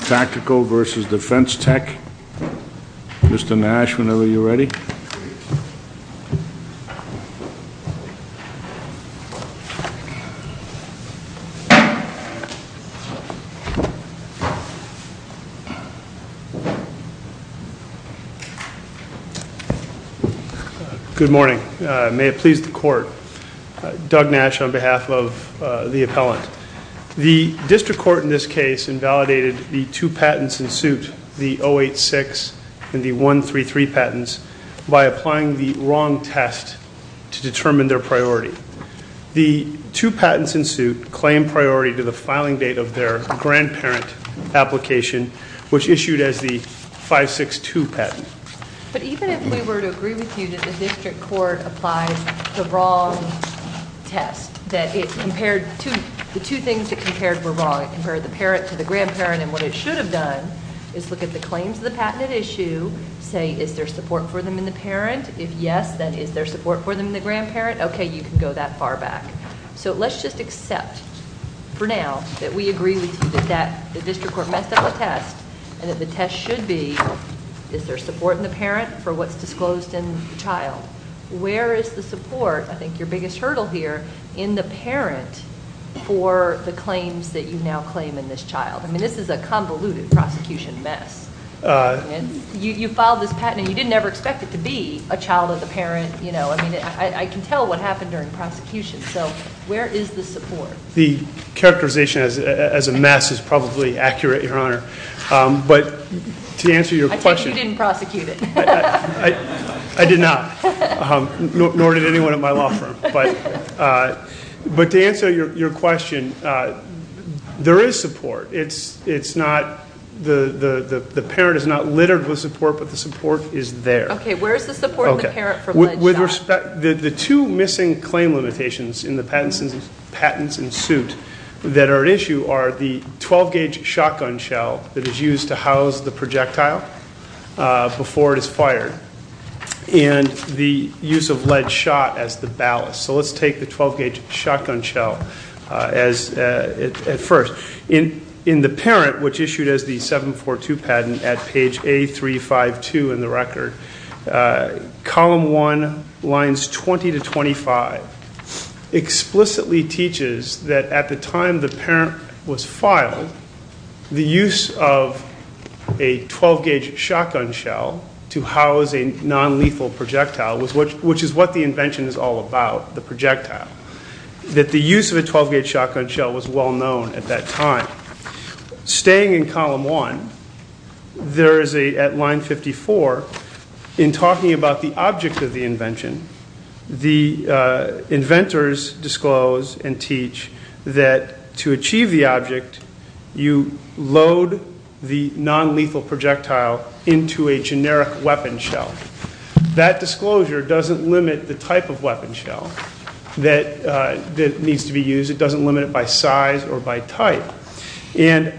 Tactical v. Defense Tech. Mr. Nash whenever you're ready. Good morning. May it please the court. Doug Nash on behalf of the appellant. The two patents in suit the 086 and the 133 patents by applying the wrong test to determine their priority. The two patents in suit claim priority to the filing date of their grandparent application which issued as the 562 patent. But even if we were to agree with you that the district court applies the wrong test that it compared to the two things that compared were wrong. It compared the parent to the grandparent and what it should have done is look at the claims of the patented issue, say is there support for them in the parent? If yes then is there support for them in the grandparent? Okay you can go that far back. So let's just accept for now that we agree with you that the district court messed up a test and that the test should be is there support in the parent for what's disclosed in the child? Where is the support, I think your biggest hurdle here, in the parent for the claims that you now claim in this child? I mean this is a convoluted prosecution mess. You filed this patent and you didn't ever expect it to be a child of the parent you know. I mean I can tell what happened during prosecution. So where is the support? The characterization as a mess is probably accurate Your Honor. But to answer your question. I take it you didn't prosecute it. I did not. Nor did anyone at my law firm. But to answer your question, there is support. It's not, the parent is not littered with support but the support is there. Okay where's the support in the parent for the child? With respect, the two missing claim limitations in the patents and suit that are at issue are the 12-gauge shotgun shell that is used to house the projectile before it is fired and the use of lead shot as the ballast. So let's take the 12-gauge shotgun shell as at first. In the parent which issued as the 742 patent at page A352 in the record, column 1 lines 20 to 25 explicitly teaches that at the inventors disclose and teach that to achieve the object you load the weapon shell. That disclosure doesn't limit the type of weapon shell that needs to be used. It doesn't limit it by size or by type. And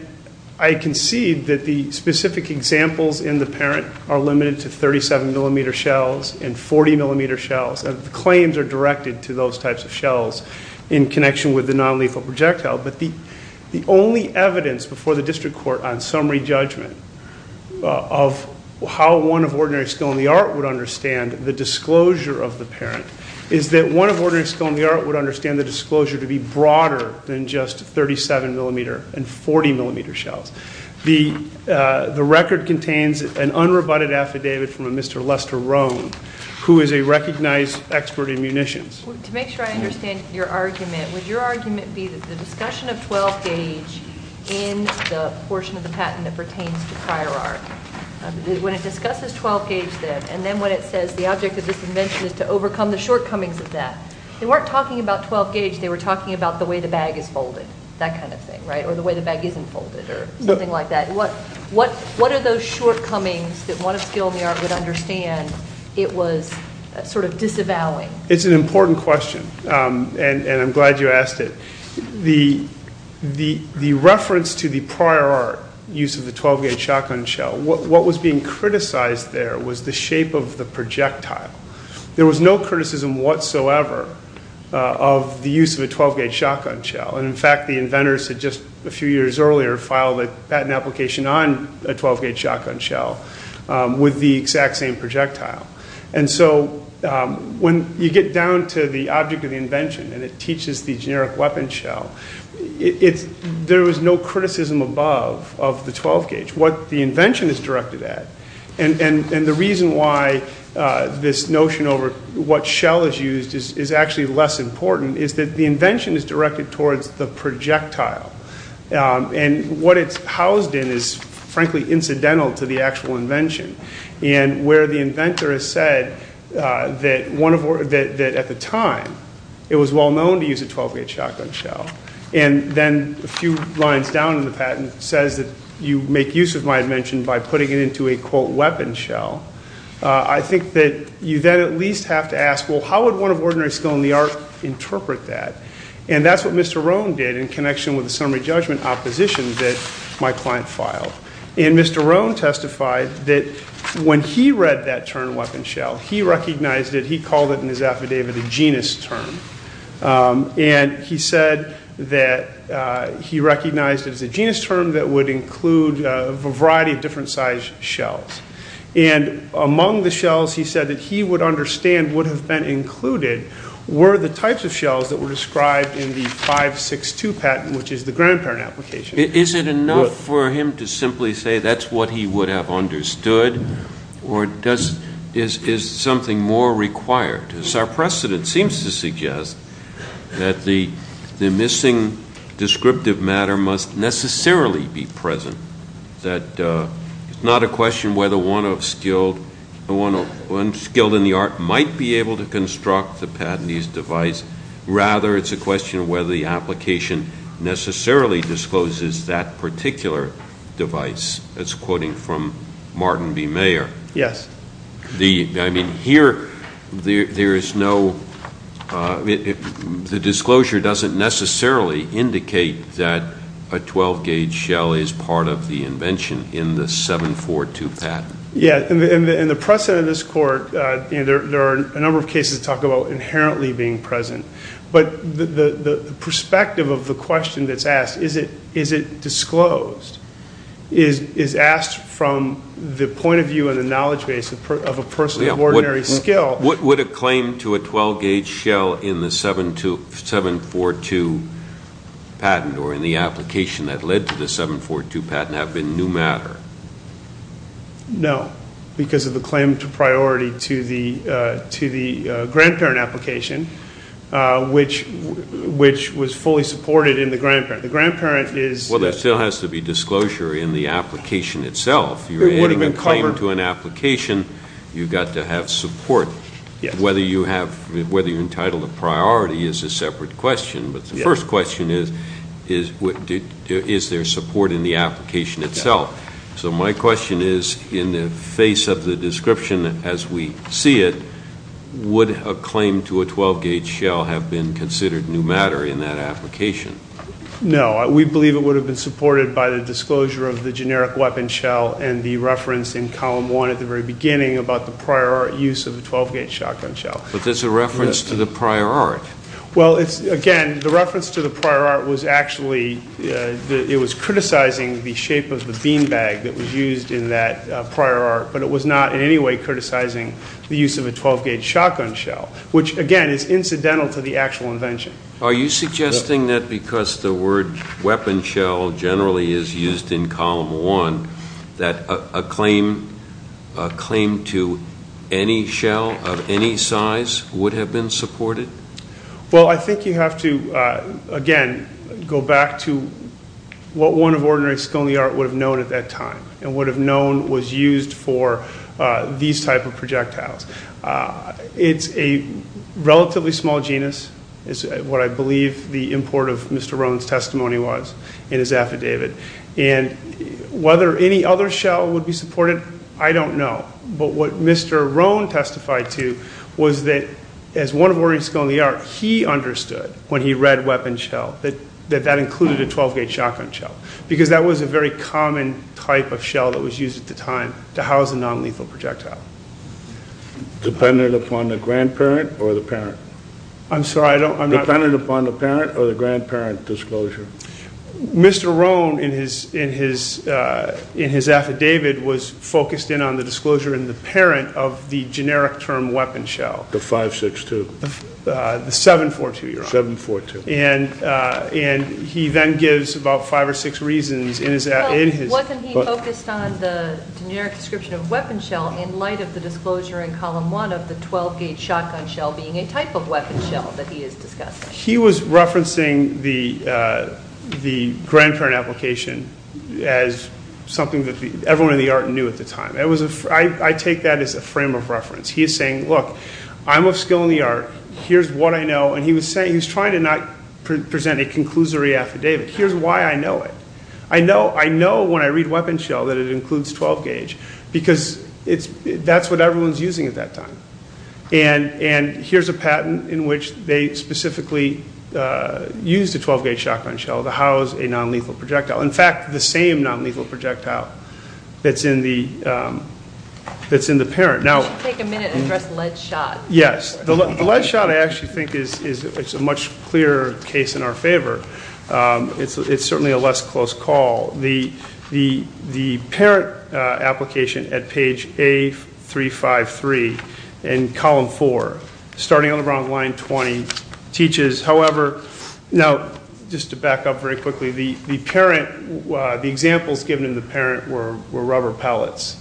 I can see that the specific examples in the parent are limited to 37mm shells and 40mm shells. Claims are directed to those types of shells in connection with the non-lethal projectile. But the only evidence before the district court on summary judgment of how one of Ordinary Skill and the Art would understand the disclosure of the parent is that one of Ordinary Skill and the Art would understand the disclosure to be broader than just 37mm and 40mm shells. The record contains an unrebutted affidavit from a Mr. Lester Roan who is a recognized expert in munitions. To make sure I understand your argument, would your argument be that the discussion of 12-gauge in the portion of the patent that pertains to prior art, when it discusses 12-gauge then and then when it says the object of this invention is to overcome the shortcomings of that, they weren't talking about 12-gauge, they were talking about the way the bag is folded, that kind of thing, right? Or the way the bag isn't folded or something like that. What are those shortcomings that one of Skill and the Art would understand it was sort of disavowing? It's an important question and I'm glad you asked it. The reference to the prior art use of the 12-gauge shotgun shell, what was being criticized there was the shape of the projectile. There was no criticism whatsoever of the use of a 12-gauge shotgun shell. And in fact, the inventors had just a few years earlier filed a patent application on a 12-gauge shotgun shell with the exact same projectile. And so when you get down to the object of the invention and it teaches the generic weapon shell, there was no criticism above of the 12-gauge. What the invention is directed at and the reason why this notion over what shell is used is actually less important is that the invention is directed towards the projectile. And what it's housed in is, frankly, incidental to the actual invention. And where the inventor has said that at the time it was well known to use a 12-gauge shotgun shell and then a few lines down in the patent says that you make use of my invention by putting it into a, quote, weapon shell, I think that you then at least have to ask, well, how would one of Ordinary Skill and the Art interpret that? And that's what Mr. Roan did in connection with the summary judgment opposition that my client filed. And Mr. Roan testified that when he read that term weapon shell, he recognized it, he called it in his affidavit a genus term. And he said that he recognized it as a genus term that would include a variety of different size shells. And among the shells he said that he would understand would have been included were the types of shells that were described in the 562 patent, which is the grandparent application. Is it enough for him to simply say that's what he would have understood? Or is something more required? Our precedent seems to suggest that the missing descriptive matter must necessarily be present. Yes. That's quoting from Martin B. Mayer. I mean, here there is no, the disclosure doesn't necessarily indicate that a 12-gauge shell is part of the invention in the 742 patent. In the precedent of this court, there are a number of cases that talk about inherently being present. But the perspective of the question that's asked, is it disclosed, is asked from the point of view and the knowledge base of a person of Ordinary Skill. Would a claim to a 12-gauge shell in the 742 patent or in the application that led to the 742 patent have been new matter? No. Because of the claim to priority to the grandparent application, which was fully supported in the grandparent. The grandparent is... Well, there still has to be disclosure in the application itself. It would have been covered... You're adding a claim to an application, you've got to have support. Yes. Whether you're entitled to priority is a separate question. But the first question is, is there support in the application itself? So my question is, in the face of the description as we see it, would a claim to a 12-gauge shell have been considered new matter in that application? No. We believe it would have been supported by the disclosure of the generic weapon shell and the reference in column one at the very beginning about the prior art use of a 12-gauge shotgun shell. But that's a reference to the prior art. Well, again, the reference to the prior art was actually, it was criticizing the shape of the beanbag that was used in that prior art, but it was not in any way criticizing the use of a 12-gauge shotgun shell. Which, again, is incidental to the actual invention. Are you suggesting that because the word weapon shell generally is used in column one, that a claim to any shell of any size would have been supported? Well, I think you have to, again, go back to what one of ordinary skill in the art would have known at that time and would have known was used for these type of projectiles. It's a relatively small genus. It's what I believe the import of Mr. Roan's testimony was in his affidavit. And whether any other shell would be supported, I don't know. But what Mr. Roan testified to was that as one of ordinary skill in the art, he understood when he read weapon shell that that included a 12-gauge shotgun shell. Because that was a very common type of shell that was used at the time to house a non-lethal projectile. Dependent upon the grandparent or the parent? I'm sorry, I'm not... Dependent upon the parent or the grandparent disclosure? Mr. Roan, in his affidavit, was focused in on the disclosure in the parent of the generic term weapon shell. The 5-6-2. The 7-4-2, your honor. 7-4-2. And he then gives about five or six reasons in his... Wasn't he focused on the generic description of weapon shell in light of the disclosure in column one of the 12-gauge shotgun shell being a type of weapon shell that he is discussing? He was referencing the grandparent application as something that everyone in the art knew at the time. I take that as a frame of reference. He is saying, look, I'm of skill in the art. Here's what I know. And he was trying to not present a conclusory affidavit. Here's why I know it. I know when I read weapon shell that it includes 12-gauge because that's what everyone's using at that time. And here's a patent in which they specifically used a 12-gauge shotgun shell to house a non-lethal projectile. In fact, the same non-lethal projectile that's in the parent. Could you take a minute and address lead shot? Yes. The lead shot, I actually think, is a much clearer case in our favor. It's certainly a less close call. The parent application at page A353 in column four, starting on the bottom of line 20, teaches, however... Now, just to back up very quickly, the parent, the examples given in the parent were rubber pellets.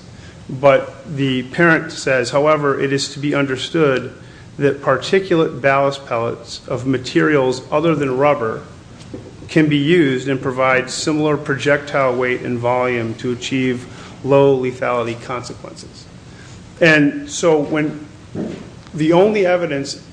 But the parent says, however, it is to be understood that particulate ballast pellets of materials other than rubber can be used and provide similar projectile weight and volume to achieve low lethality consequences. And so the only evidence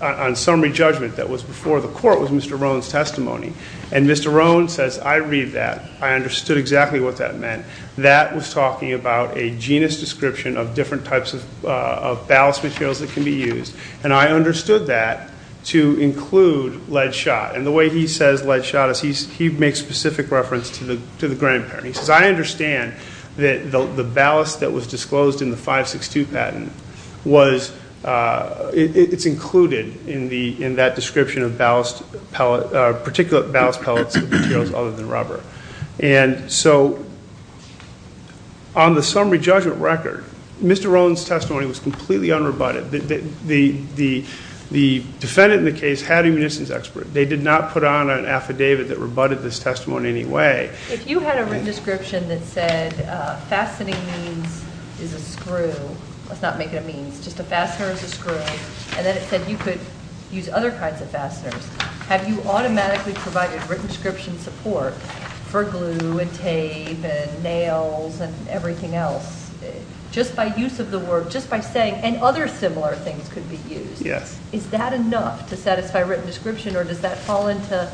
on summary judgment that was before the court was Mr. Roan's testimony. And Mr. Roan says, I read that. I understood exactly what that meant. That was talking about a genus description of different types of ballast materials that can be used. And I understood that to include lead shot. And the way he says lead shot is he makes specific reference to the grandparent. He says, I understand that the ballast that was disclosed in the 562 patent was, it's included in that description of particulate ballast pellets of materials other than rubber. And so on the summary judgment record, Mr. Roan's testimony was completely unrebutted. The defendant in the case had a munitions expert. They did not put on an affidavit that rebutted this testimony in any way. If you had a written description that said fastening means is a screw, let's not make it a means, just a fastener is a screw, and then it said you could use other kinds of fasteners, have you automatically provided written description support for glue and tape and nails and everything else? Just by use of the word, just by saying, and other similar things could be used. Yes. Is that enough to satisfy written description, or does that fall into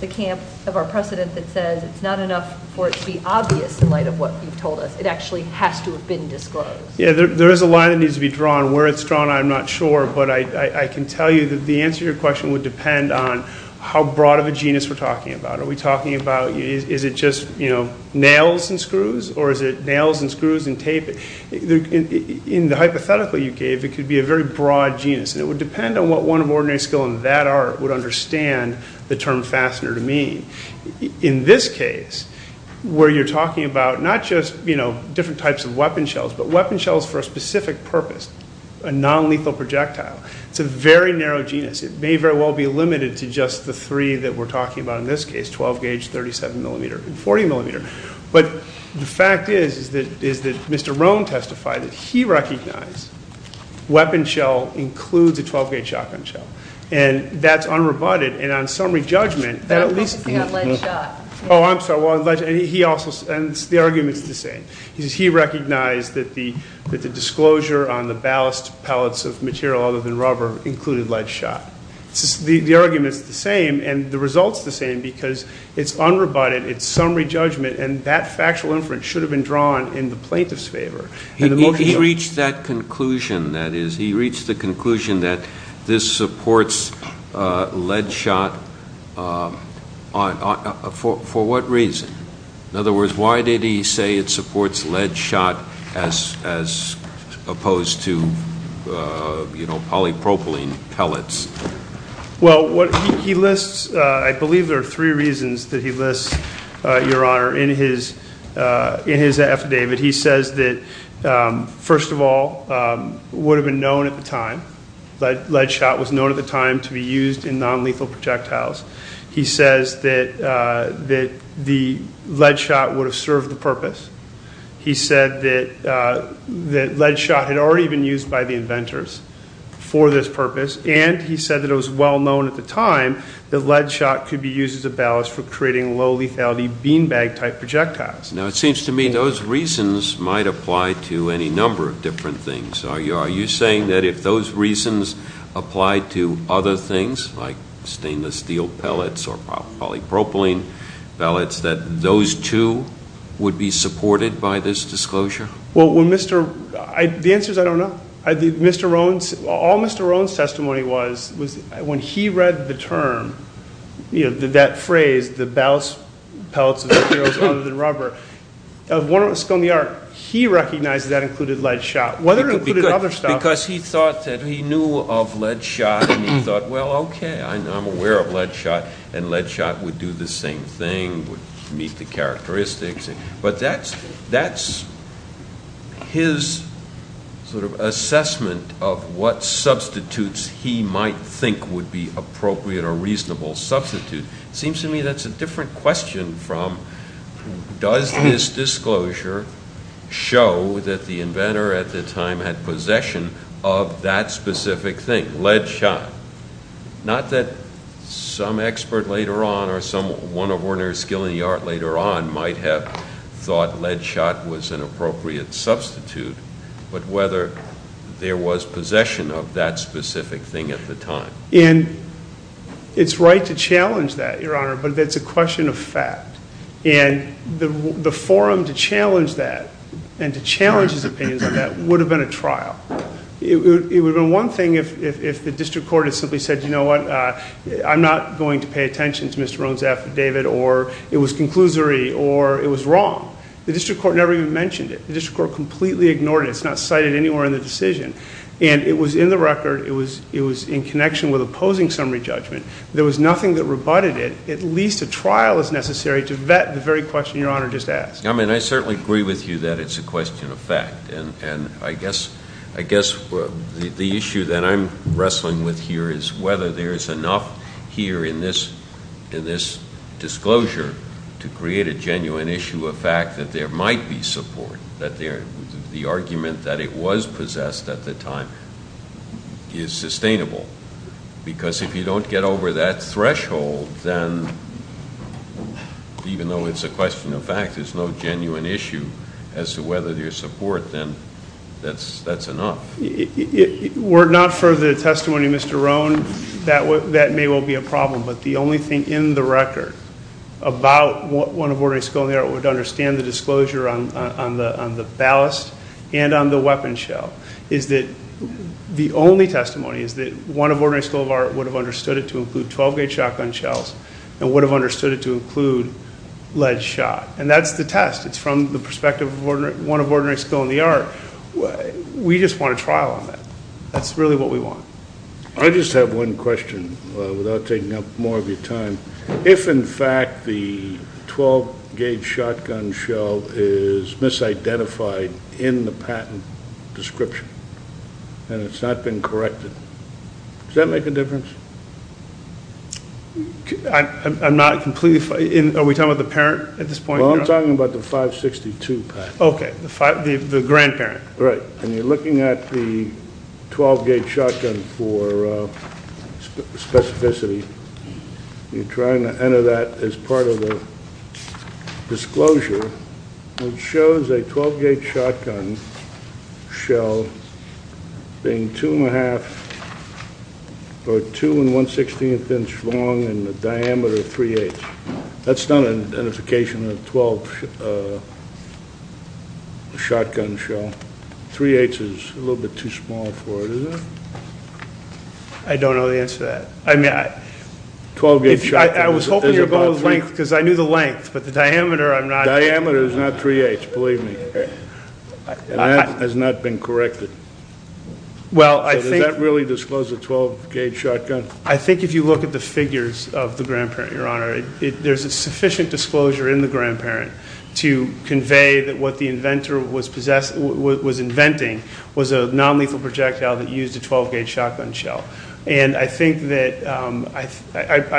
the camp of our precedent that says it's not enough for it to be obvious in light of what you've told us? It actually has to have been disclosed. Yeah, there is a line that needs to be drawn. Where it's drawn, I'm not sure. But I can tell you that the answer to your question would depend on how broad of a genus we're talking about. Are we talking about is it just, you know, nails and screws, or is it nails and screws and tape? In the hypothetical you gave, it could be a very broad genus, and it would depend on what one of ordinary skill in that art would understand the term fastener to mean. In this case, where you're talking about not just, you know, different types of weapon shells, but weapon shells for a specific purpose, a non-lethal projectile, it's a very narrow genus. It may very well be limited to just the three that we're talking about in this case, 12-gauge, 37-millimeter, and 40-millimeter. But the fact is that Mr. Roan testified that he recognized weapon shell includes a 12-gauge shotgun shell, and that's unrebutted, and on summary judgment, that at least- I'm talking about lead shot. Oh, I'm sorry. And the argument's the same. He recognized that the disclosure on the ballast pellets of material other than rubber included lead shot. The argument's the same, and the result's the same, because it's unrebutted, it's summary judgment, and that factual inference should have been drawn in the plaintiff's favor. He reached that conclusion, that is. For what reason? In other words, why did he say it supports lead shot as opposed to, you know, polypropylene pellets? Well, he lists-I believe there are three reasons that he lists, Your Honor, in his affidavit. He says that, first of all, it would have been known at the time, lead shot was known at the time to be used in nonlethal projectiles. He says that the lead shot would have served the purpose. He said that lead shot had already been used by the inventors for this purpose, and he said that it was well known at the time that lead shot could be used as a ballast for creating low-lethality beanbag-type projectiles. Now, it seems to me those reasons might apply to any number of different things. Are you saying that if those reasons applied to other things, like stainless steel pellets or polypropylene pellets, that those, too, would be supported by this disclosure? Well, when Mr.-the answer is I don't know. All Mr. Rohn's testimony was, was when he read the term, you know, that phrase, the ballast pellets of materials other than rubber, of Warner & Scone, he recognized that included lead shot. It could be good because he thought that he knew of lead shot, and he thought, well, okay, I'm aware of lead shot, and lead shot would do the same thing, would meet the characteristics. But that's his sort of assessment of what substitutes he might think would be appropriate or reasonable substitutes. It seems to me that's a different question from does this disclosure show that the inventor at the time had possession of that specific thing, lead shot? Not that some expert later on or some one of Warner's skill in the art later on might have thought lead shot was an appropriate substitute, but whether there was possession of that specific thing at the time. And it's right to challenge that, Your Honor, but it's a question of fact. And the forum to challenge that and to challenge his opinions on that would have been a trial. It would have been one thing if the district court had simply said, you know what, I'm not going to pay attention to Mr. Rohn's affidavit, or it was conclusory, or it was wrong. The district court never even mentioned it. The district court completely ignored it. It's not cited anywhere in the decision. And it was in the record. It was in connection with opposing summary judgment. There was nothing that rebutted it. At least a trial is necessary to vet the very question Your Honor just asked. I mean, I certainly agree with you that it's a question of fact. And I guess the issue that I'm wrestling with here is whether there is enough here in this disclosure to create a genuine issue of fact that there might be support, that the argument that it was possessed at the time is sustainable. Because if you don't get over that threshold, then even though it's a question of fact, there's no genuine issue as to whether there's support then. That's enough. Were it not for the testimony of Mr. Rohn, that may well be a problem. But the only thing in the record about what one of our disclosures would understand, the disclosure on the ballast and on the weapon shell, is that the only testimony is that one of Ordinary School of Art would have understood it to include 12-gauge shotgun shells and would have understood it to include lead shot. And that's the test. It's from the perspective of one of Ordinary School of the Art. We just want a trial on that. That's really what we want. I just have one question without taking up more of your time. If, in fact, the 12-gauge shotgun shell is misidentified in the patent description and it's not been corrected, does that make a difference? I'm not completely—are we talking about the parent at this point? Well, I'm talking about the 562 patent. Okay, the grandparent. Right. When you're looking at the 12-gauge shotgun for specificity, you're trying to enter that as part of the disclosure. It shows a 12-gauge shotgun shell being 2-1⁄2 or 2-1⁄16 inch long in the diameter of 3⁄8. That's not an identification of a 12-shotgun shell. 3⁄8 is a little bit too small for it, is it? I don't know the answer to that. I mean, I was hoping you would go with length because I knew the length, but the diameter I'm not— The diameter is not 3⁄8, believe me. And that has not been corrected. So does that really disclose a 12-gauge shotgun? I think if you look at the figures of the grandparent, Your Honor, there's a sufficient disclosure in the grandparent to convey that what the inventor was inventing was a nonlethal projectile that used a 12-gauge shotgun shell. And I think that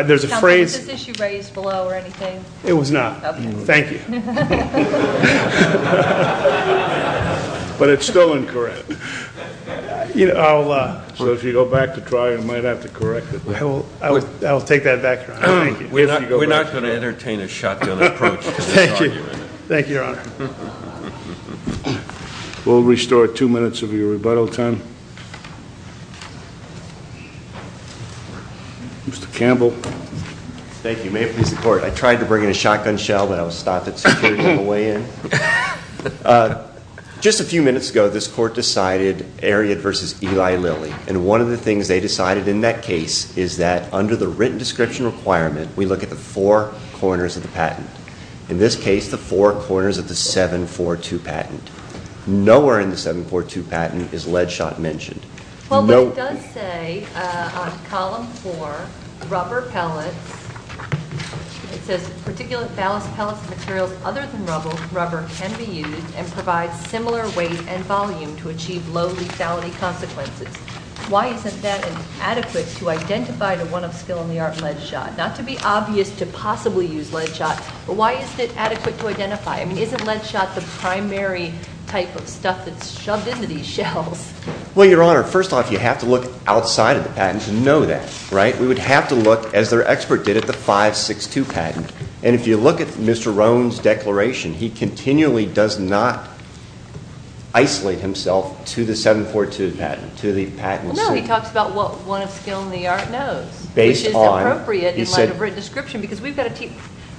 there's a phrase— Was this issue raised below or anything? It was not. Okay. Thank you. But it's still incorrect. So if you go back to try, you might have to correct it. I will take that back, Your Honor. We're not going to entertain a shotgun approach. Thank you. Thank you, Your Honor. We'll restore two minutes of your rebuttal time. Mr. Campbell. Thank you. May it please the Court. I tried to bring in a shotgun shell, but I was stopped at security on the way in. Just a few minutes ago, this Court decided, Ariad versus Eli Lilly, and one of the things they decided in that case is that under the written description requirement, we look at the four corners of the patent. In this case, the four corners of the 742 patent. Nowhere in the 742 patent is lead shot mentioned. Well, it does say on column four, rubber pellets. It says particulate ballast pellets and materials other than rubber can be used and provide similar weight and volume to achieve low lethality consequences. Why isn't that adequate to identify the one of skill in the art lead shot? Not to be obvious to possibly use lead shot, but why isn't it adequate to identify? I mean, isn't lead shot the primary type of stuff that's shoved into these shells? Well, Your Honor, first off, you have to look outside of the patent to know that, right? We would have to look, as their expert did, at the 562 patent, and if you look at Mr. Rohn's declaration, he continually does not isolate himself to the 742 patent, to the patent. No, he talks about what one of skill in the art knows, which is appropriate in light of written description because we've got to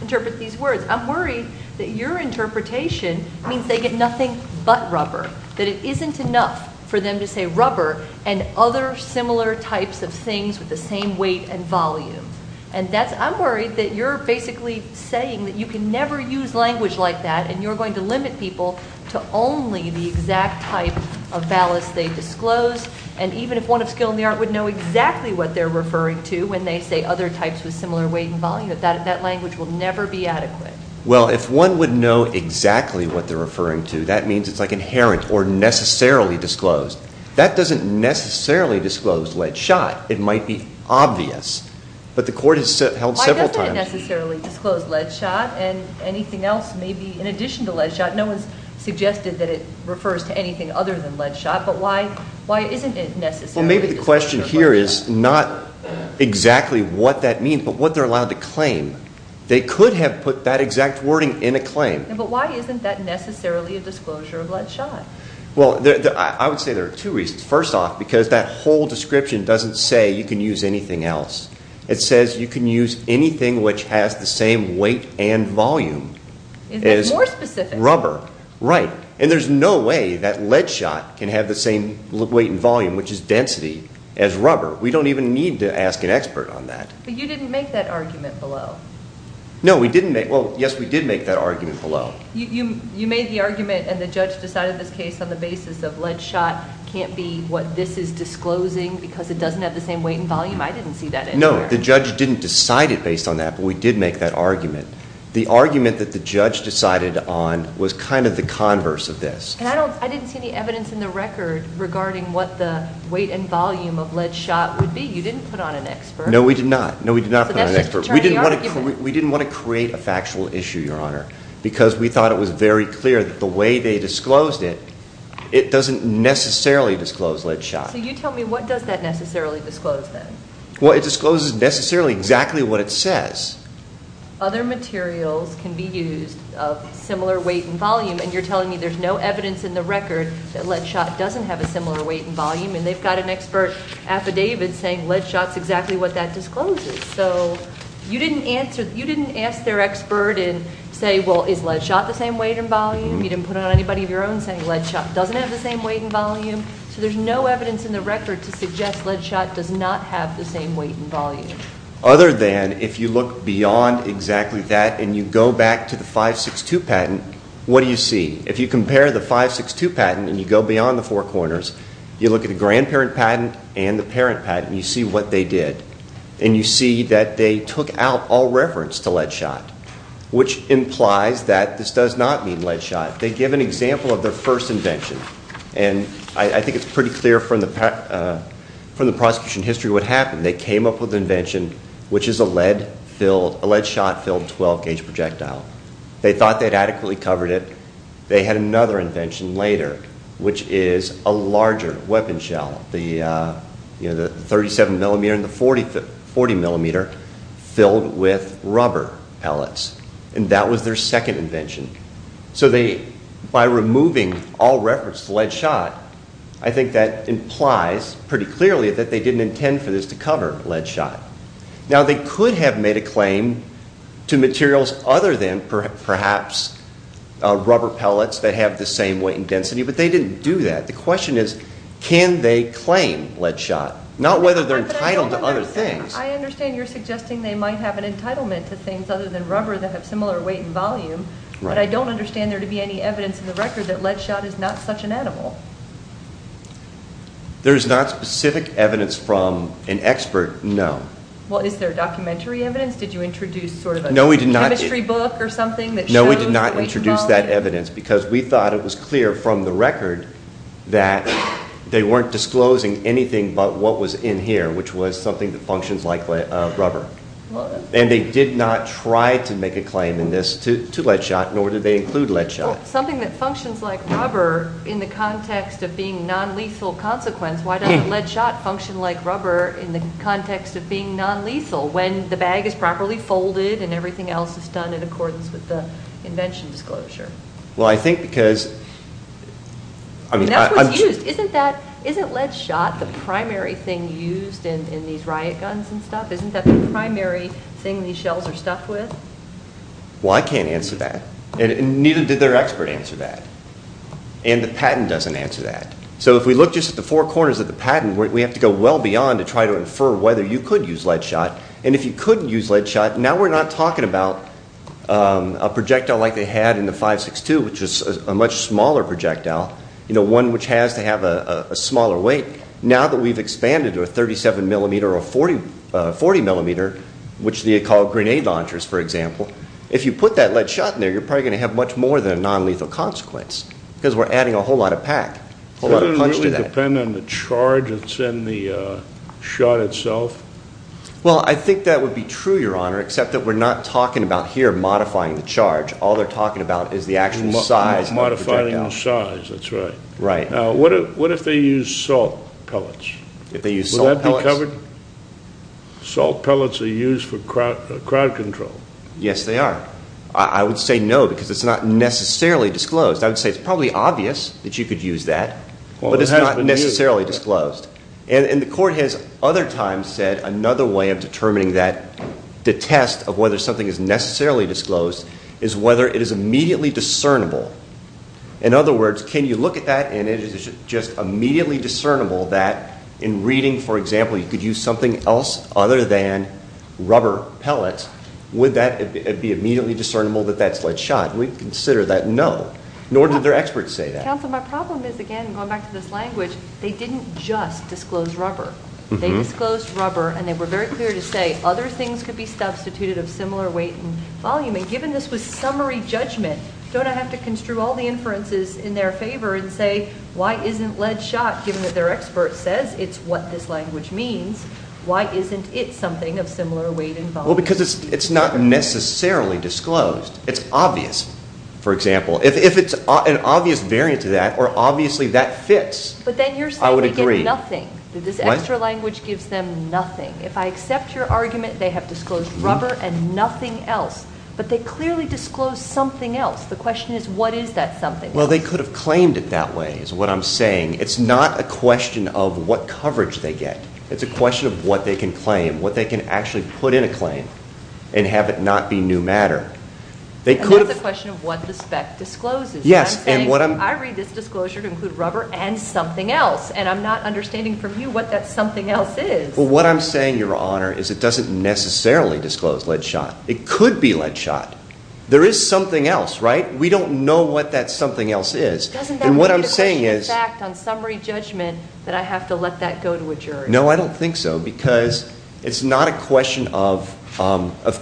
interpret these words. I'm worried that your interpretation means they get nothing but rubber, that it isn't enough for them to say rubber and other similar types of things with the same weight and volume. And I'm worried that you're basically saying that you can never use language like that and you're going to limit people to only the exact type of ballast they disclose, and even if one of skill in the art would know exactly what they're referring to when they say other types with similar weight and volume, that language will never be adequate. Well, if one would know exactly what they're referring to, that means it's like inherent or necessarily disclosed. That doesn't necessarily disclose lead shot. It might be obvious, but the court has held several times. Why doesn't it necessarily disclose lead shot and anything else maybe in addition to lead shot? No one's suggested that it refers to anything other than lead shot, but why isn't it necessarily? Well, maybe the question here is not exactly what that means, but what they're allowed to claim. They could have put that exact wording in a claim. But why isn't that necessarily a disclosure of lead shot? Well, I would say there are two reasons. First off, because that whole description doesn't say you can use anything else. It says you can use anything which has the same weight and volume as rubber. Is that more specific? Right, and there's no way that lead shot can have the same weight and volume, which is density, as rubber. We don't even need to ask an expert on that. But you didn't make that argument below. No, we didn't make—well, yes, we did make that argument below. You made the argument and the judge decided this case on the basis of lead shot can't be what this is disclosing because it doesn't have the same weight and volume? I didn't see that anywhere. No, the judge didn't decide it based on that, but we did make that argument. The argument that the judge decided on was kind of the converse of this. And I didn't see any evidence in the record regarding what the weight and volume of lead shot would be. You didn't put on an expert. No, we did not. No, we did not put on an expert. So that's just to turn the argument. We didn't want to create a factual issue, Your Honor, because we thought it was very clear that the way they disclosed it, it doesn't necessarily disclose lead shot. So you tell me, what does that necessarily disclose then? Well, it discloses necessarily exactly what it says. Other materials can be used of similar weight and volume, and you're telling me there's no evidence in the record that lead shot doesn't have a similar weight and volume, and they've got an expert affidavit saying lead shot's exactly what that discloses. So you didn't ask their expert and say, well, is lead shot the same weight and volume? You didn't put it on anybody of your own saying lead shot doesn't have the same weight and volume. So there's no evidence in the record to suggest lead shot does not have the same weight and volume. Other than if you look beyond exactly that and you go back to the 562 patent, what do you see? If you compare the 562 patent and you go beyond the four corners, you look at the grandparent patent and the parent patent, you see what they did. And you see that they took out all reference to lead shot, which implies that this does not mean lead shot. They give an example of their first invention, and I think it's pretty clear from the prosecution history what happened. They came up with an invention, which is a lead shot-filled 12-gauge projectile. They thought they'd adequately covered it. They had another invention later, which is a larger weapon shell, the 37mm and the 40mm, filled with rubber pellets. And that was their second invention. So by removing all reference to lead shot, I think that implies pretty clearly that they didn't intend for this to cover lead shot. Now they could have made a claim to materials other than perhaps rubber pellets that have the same weight and density, but they didn't do that. The question is, can they claim lead shot? Not whether they're entitled to other things. I understand you're suggesting they might have an entitlement to things other than rubber that have similar weight and volume, but I don't understand there to be any evidence in the record that lead shot is not such an animal. There is not specific evidence from an expert, no. Well, is there documentary evidence? Did you introduce sort of a chemistry book or something that shows weight and volume? No, we did not introduce that evidence because we thought it was clear from the record that they weren't disclosing anything but what was in here, which was something that functions like rubber. And they did not try to make a claim in this to lead shot, nor did they include lead shot. Well, something that functions like rubber in the context of being non-lethal consequence, why doesn't lead shot function like rubber in the context of being non-lethal when the bag is properly folded and everything else is done in accordance with the invention disclosure? Well, I think because... That's what's used. Isn't lead shot the primary thing used in these riot guns and stuff? Isn't that the primary thing these shells are stuffed with? Well, I can't answer that. And neither did their expert answer that. And the patent doesn't answer that. So if we look just at the four corners of the patent, we have to go well beyond to try to infer whether you could use lead shot. And if you couldn't use lead shot, now we're not talking about a projectile like they had in the 562, which was a much smaller projectile, one which has to have a smaller weight. Now that we've expanded to a 37 millimeter or a 40 millimeter, which they call grenade launchers, for example, if you put that lead shot in there, you're probably going to have much more than a non-lethal consequence because we're adding a whole lot of pack, a whole lot of punch to that. Doesn't it really depend on the charge that's in the shot itself? Well, I think that would be true, Your Honor, except that we're not talking about here modifying the charge. All they're talking about is the actual size of the projectile. Modifying the size, that's right. Right. Now, what if they used salt pellets? Would that be covered? Salt pellets are used for crowd control. Yes, they are. I would say no because it's not necessarily disclosed. I would say it's probably obvious that you could use that, but it's not necessarily disclosed. And the court has other times said another way of determining the test of whether something is necessarily disclosed is whether it is immediately discernible. In other words, can you look at that and it is just immediately discernible that in reading, for example, you could use something else other than rubber pellets, would that be immediately discernible that that's lead shot? We'd consider that no, nor did their experts say that. Counsel, my problem is, again, going back to this language, they didn't just disclose rubber. They disclosed rubber and they were very clear to say other things could be substituted of similar weight and volume. And given this was summary judgment, don't I have to construe all the inferences in their favor and say, why isn't lead shot, given that their expert says it's what this language means, why isn't it something of similar weight and volume? Well, because it's not necessarily disclosed. It's obvious, for example. If it's an obvious variant to that or obviously that fits, I would agree. But then you're saying we get nothing, that this extra language gives them nothing. If I accept your argument, they have disclosed rubber and nothing else, but they clearly disclosed something else. The question is, what is that something? Well, they could have claimed it that way, is what I'm saying. It's not a question of what coverage they get. It's a question of what they can claim, what they can actually put in a claim and have it not be new matter. That's a question of what the spec discloses. Yes. I read this disclosure to include rubber and something else, and I'm not understanding from you what that something else is. Well, what I'm saying, Your Honor, is it doesn't necessarily disclose lead shot. It could be lead shot. There is something else, right? We don't know what that something else is. Doesn't that make it a question of fact on summary judgment that I have to let that go to a jury? No, I don't think so because it's not a question of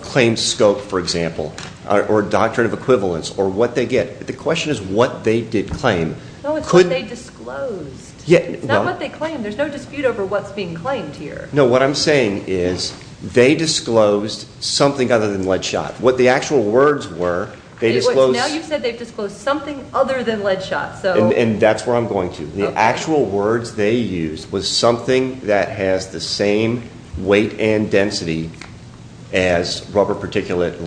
claim scope, for example, or doctrine of equivalence or what they get. The question is what they did claim. No, it's what they disclosed. It's not what they claimed. There's no dispute over what's being claimed here. No, what I'm saying is they disclosed something other than lead shot. What the actual words were, they disclosed. Now you've said they've disclosed something other than lead shot. And that's where I'm going to. The actual words they used was something that has the same weight and density as rubber particulate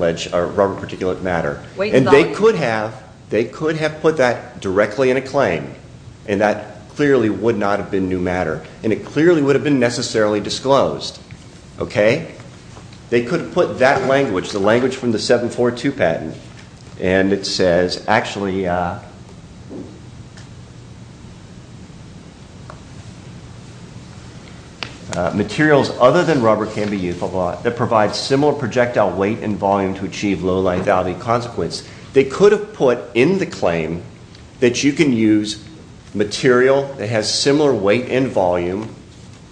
matter. And they could have put that directly in a claim, and that clearly would not have been new matter, and it clearly would have been necessarily disclosed. They could have put that language, the language from the 742 patent. And it says, actually, materials other than rubber can be used that provide similar projectile weight and volume to achieve low lethality consequence. They could have put in the claim that you can use material that has similar weight and volume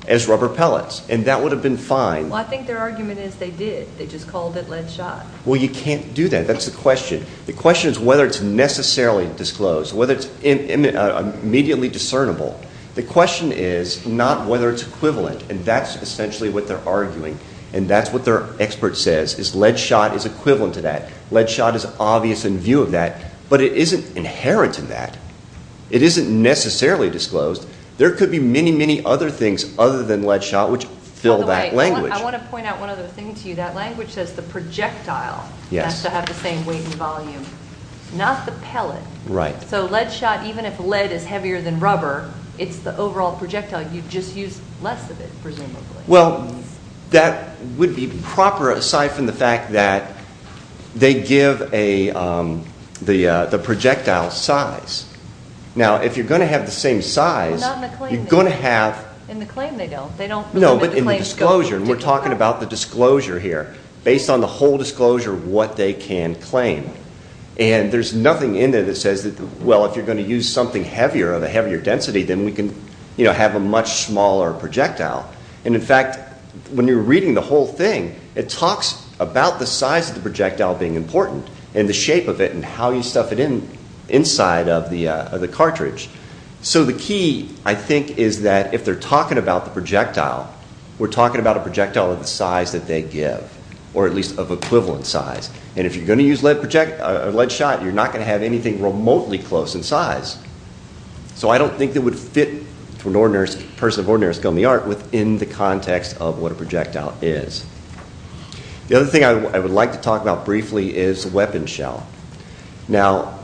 as rubber pellets. And that would have been fine. Well, I think their argument is they did. They just called it lead shot. Well, you can't do that. That's the question. The question is whether it's necessarily disclosed, whether it's immediately discernible. The question is not whether it's equivalent. And that's essentially what they're arguing. And that's what their expert says is lead shot is equivalent to that. Lead shot is obvious in view of that. But it isn't inherent in that. It isn't necessarily disclosed. There could be many, many other things other than lead shot which fill that language. By the way, I want to point out one other thing to you. That language says the projectile has to have the same weight and volume, not the pellet. Right. So lead shot, even if lead is heavier than rubber, it's the overall projectile. You just use less of it, presumably. Well, that would be proper aside from the fact that they give the projectile size. Now, if you're going to have the same size, you're going to have... In the claim, they don't. No, but in the disclosure. And we're talking about the disclosure here. Based on the whole disclosure, what they can claim. And there's nothing in there that says, well, if you're going to use something heavier, of a heavier density, then we can have a much smaller projectile. And, in fact, when you're reading the whole thing, it talks about the size of the projectile being important and the shape of it and how you stuff it inside of the cartridge. So the key, I think, is that if they're talking about the projectile, we're talking about a projectile of the size that they give, or at least of equivalent size. And if you're going to use lead shot, you're not going to have anything remotely close in size. So I don't think it would fit for a person of ordinary skill in the art within the context of what a projectile is. The other thing I would like to talk about briefly is the weapon shell. Now,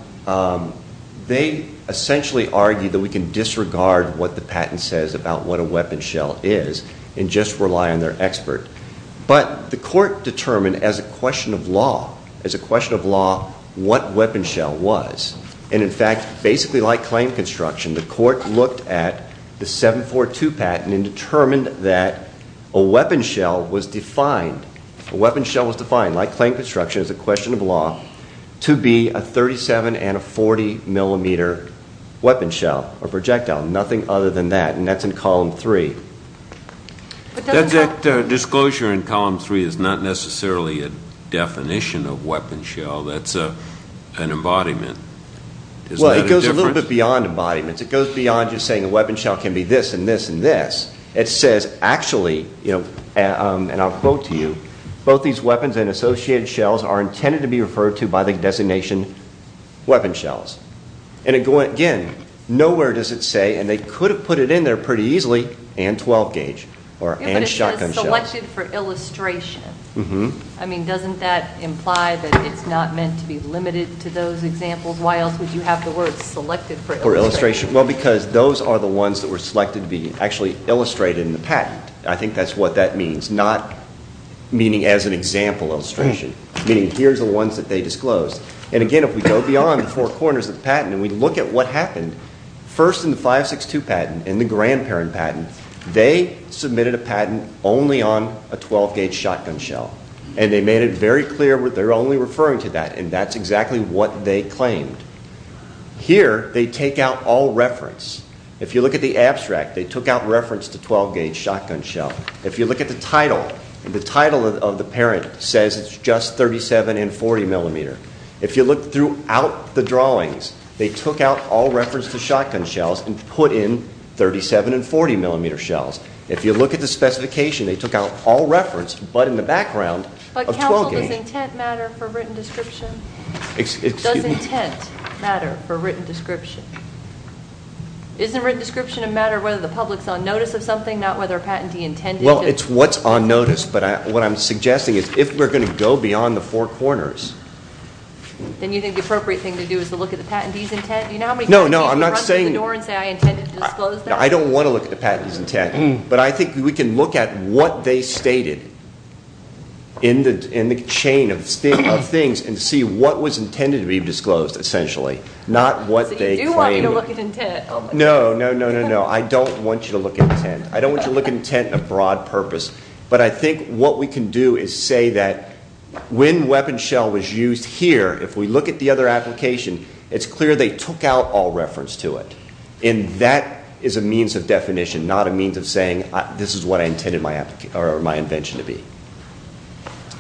they essentially argue that we can disregard what the patent says about what a weapon shell is and just rely on their expert. But the court determined, as a question of law, what weapon shell was. And, in fact, basically like claim construction, the court looked at the 742 patent and determined that a weapon shell was defined, like claim construction, as a question of law, to be a 37 and a 40 millimeter weapon shell or projectile, nothing other than that. And that's in Column 3. That disclosure in Column 3 is not necessarily a definition of weapon shell. That's an embodiment. Well, it goes a little bit beyond embodiments. It goes beyond just saying a weapon shell can be this and this and this. It says, actually, and I'll quote to you, both these weapons and associated shells are intended to be referred to by the designation weapon shells. And, again, nowhere does it say, and they could have put it in there pretty easily, and 12 gauge or and shotgun shells. But it says selected for illustration. I mean, doesn't that imply that it's not meant to be limited to those examples? Why else would you have the word selected for illustration? Well, because those are the ones that were selected to be actually illustrated in the patent. I think that's what that means, not meaning as an example illustration, meaning here's the ones that they disclosed. And, again, if we go beyond the four corners of the patent and we look at what happened, first in the 562 patent and the grandparent patent, they submitted a patent only on a 12 gauge shotgun shell. And they made it very clear they were only referring to that, and that's exactly what they claimed. Here, they take out all reference. If you look at the abstract, they took out reference to 12 gauge shotgun shell. If you look at the title, the title of the parent says it's just 37 and 40 millimeter. If you look throughout the drawings, they took out all reference to shotgun shells and put in 37 and 40 millimeter shells. If you look at the specification, they took out all reference but in the background of 12 gauge. Also, does intent matter for written description? Does intent matter for written description? Isn't written description a matter of whether the public's on notice of something, not whether a patentee intended to? Well, it's what's on notice, but what I'm suggesting is if we're going to go beyond the four corners. Then you think the appropriate thing to do is to look at the patentee's intent? Do you know how many patentees run through the door and say, I intended to disclose that? I don't want to look at the patentee's intent, but I think we can look at what they stated in the chain of things and see what was intended to be disclosed essentially, not what they claimed. So you do want me to look at intent? No, no, no, no, no. I don't want you to look at intent. I don't want you to look at intent in a broad purpose, but I think what we can do is say that when weapon shell was used here, if we look at the other application, it's clear they took out all reference to it. And that is a means of definition, not a means of saying this is what I intended my invention to be.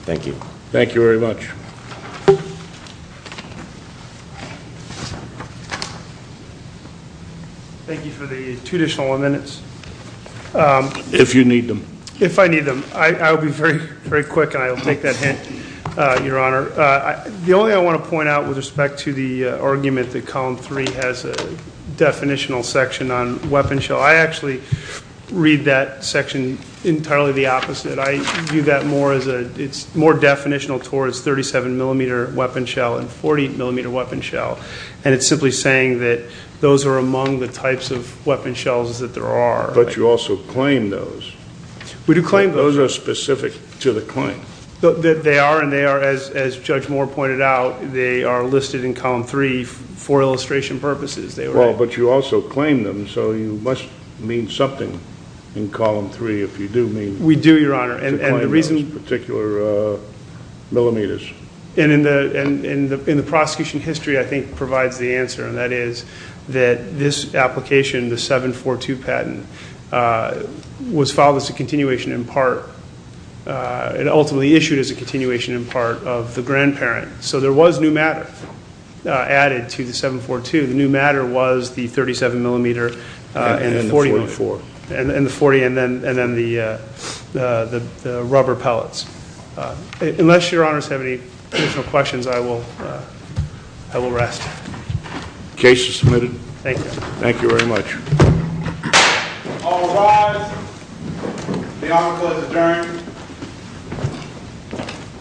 Thank you. Thank you very much. Thank you for the two additional minutes. If you need them. If I need them. I'll be very quick and I'll take that hint, Your Honor. The only thing I want to point out with respect to the argument that Column 3 has a definitional section on weapon shell, I actually read that section entirely the opposite. I view that more as it's more definitional towards 37-millimeter weapon shell and 40-millimeter weapon shell, and it's simply saying that those are among the types of weapon shells that there are. But you also claim those. We do claim those. Those are specific to the claim. They are, and they are, as Judge Moore pointed out, they are listed in Column 3 for illustration purposes. But you also claim them, so you must mean something in Column 3 if you do mean to claim those particular millimeters. And the prosecution history, I think, provides the answer, and that is that this application, the 742 patent, was filed as a continuation in part and ultimately issued as a continuation in part of the grandparent. So there was new matter added to the 742. The new matter was the 37-millimeter and the 40 and then the rubber pellets. Unless Your Honors have any additional questions, I will rest. Case is submitted. Thank you. Thank you very much. All rise. The Honorable is adjourned.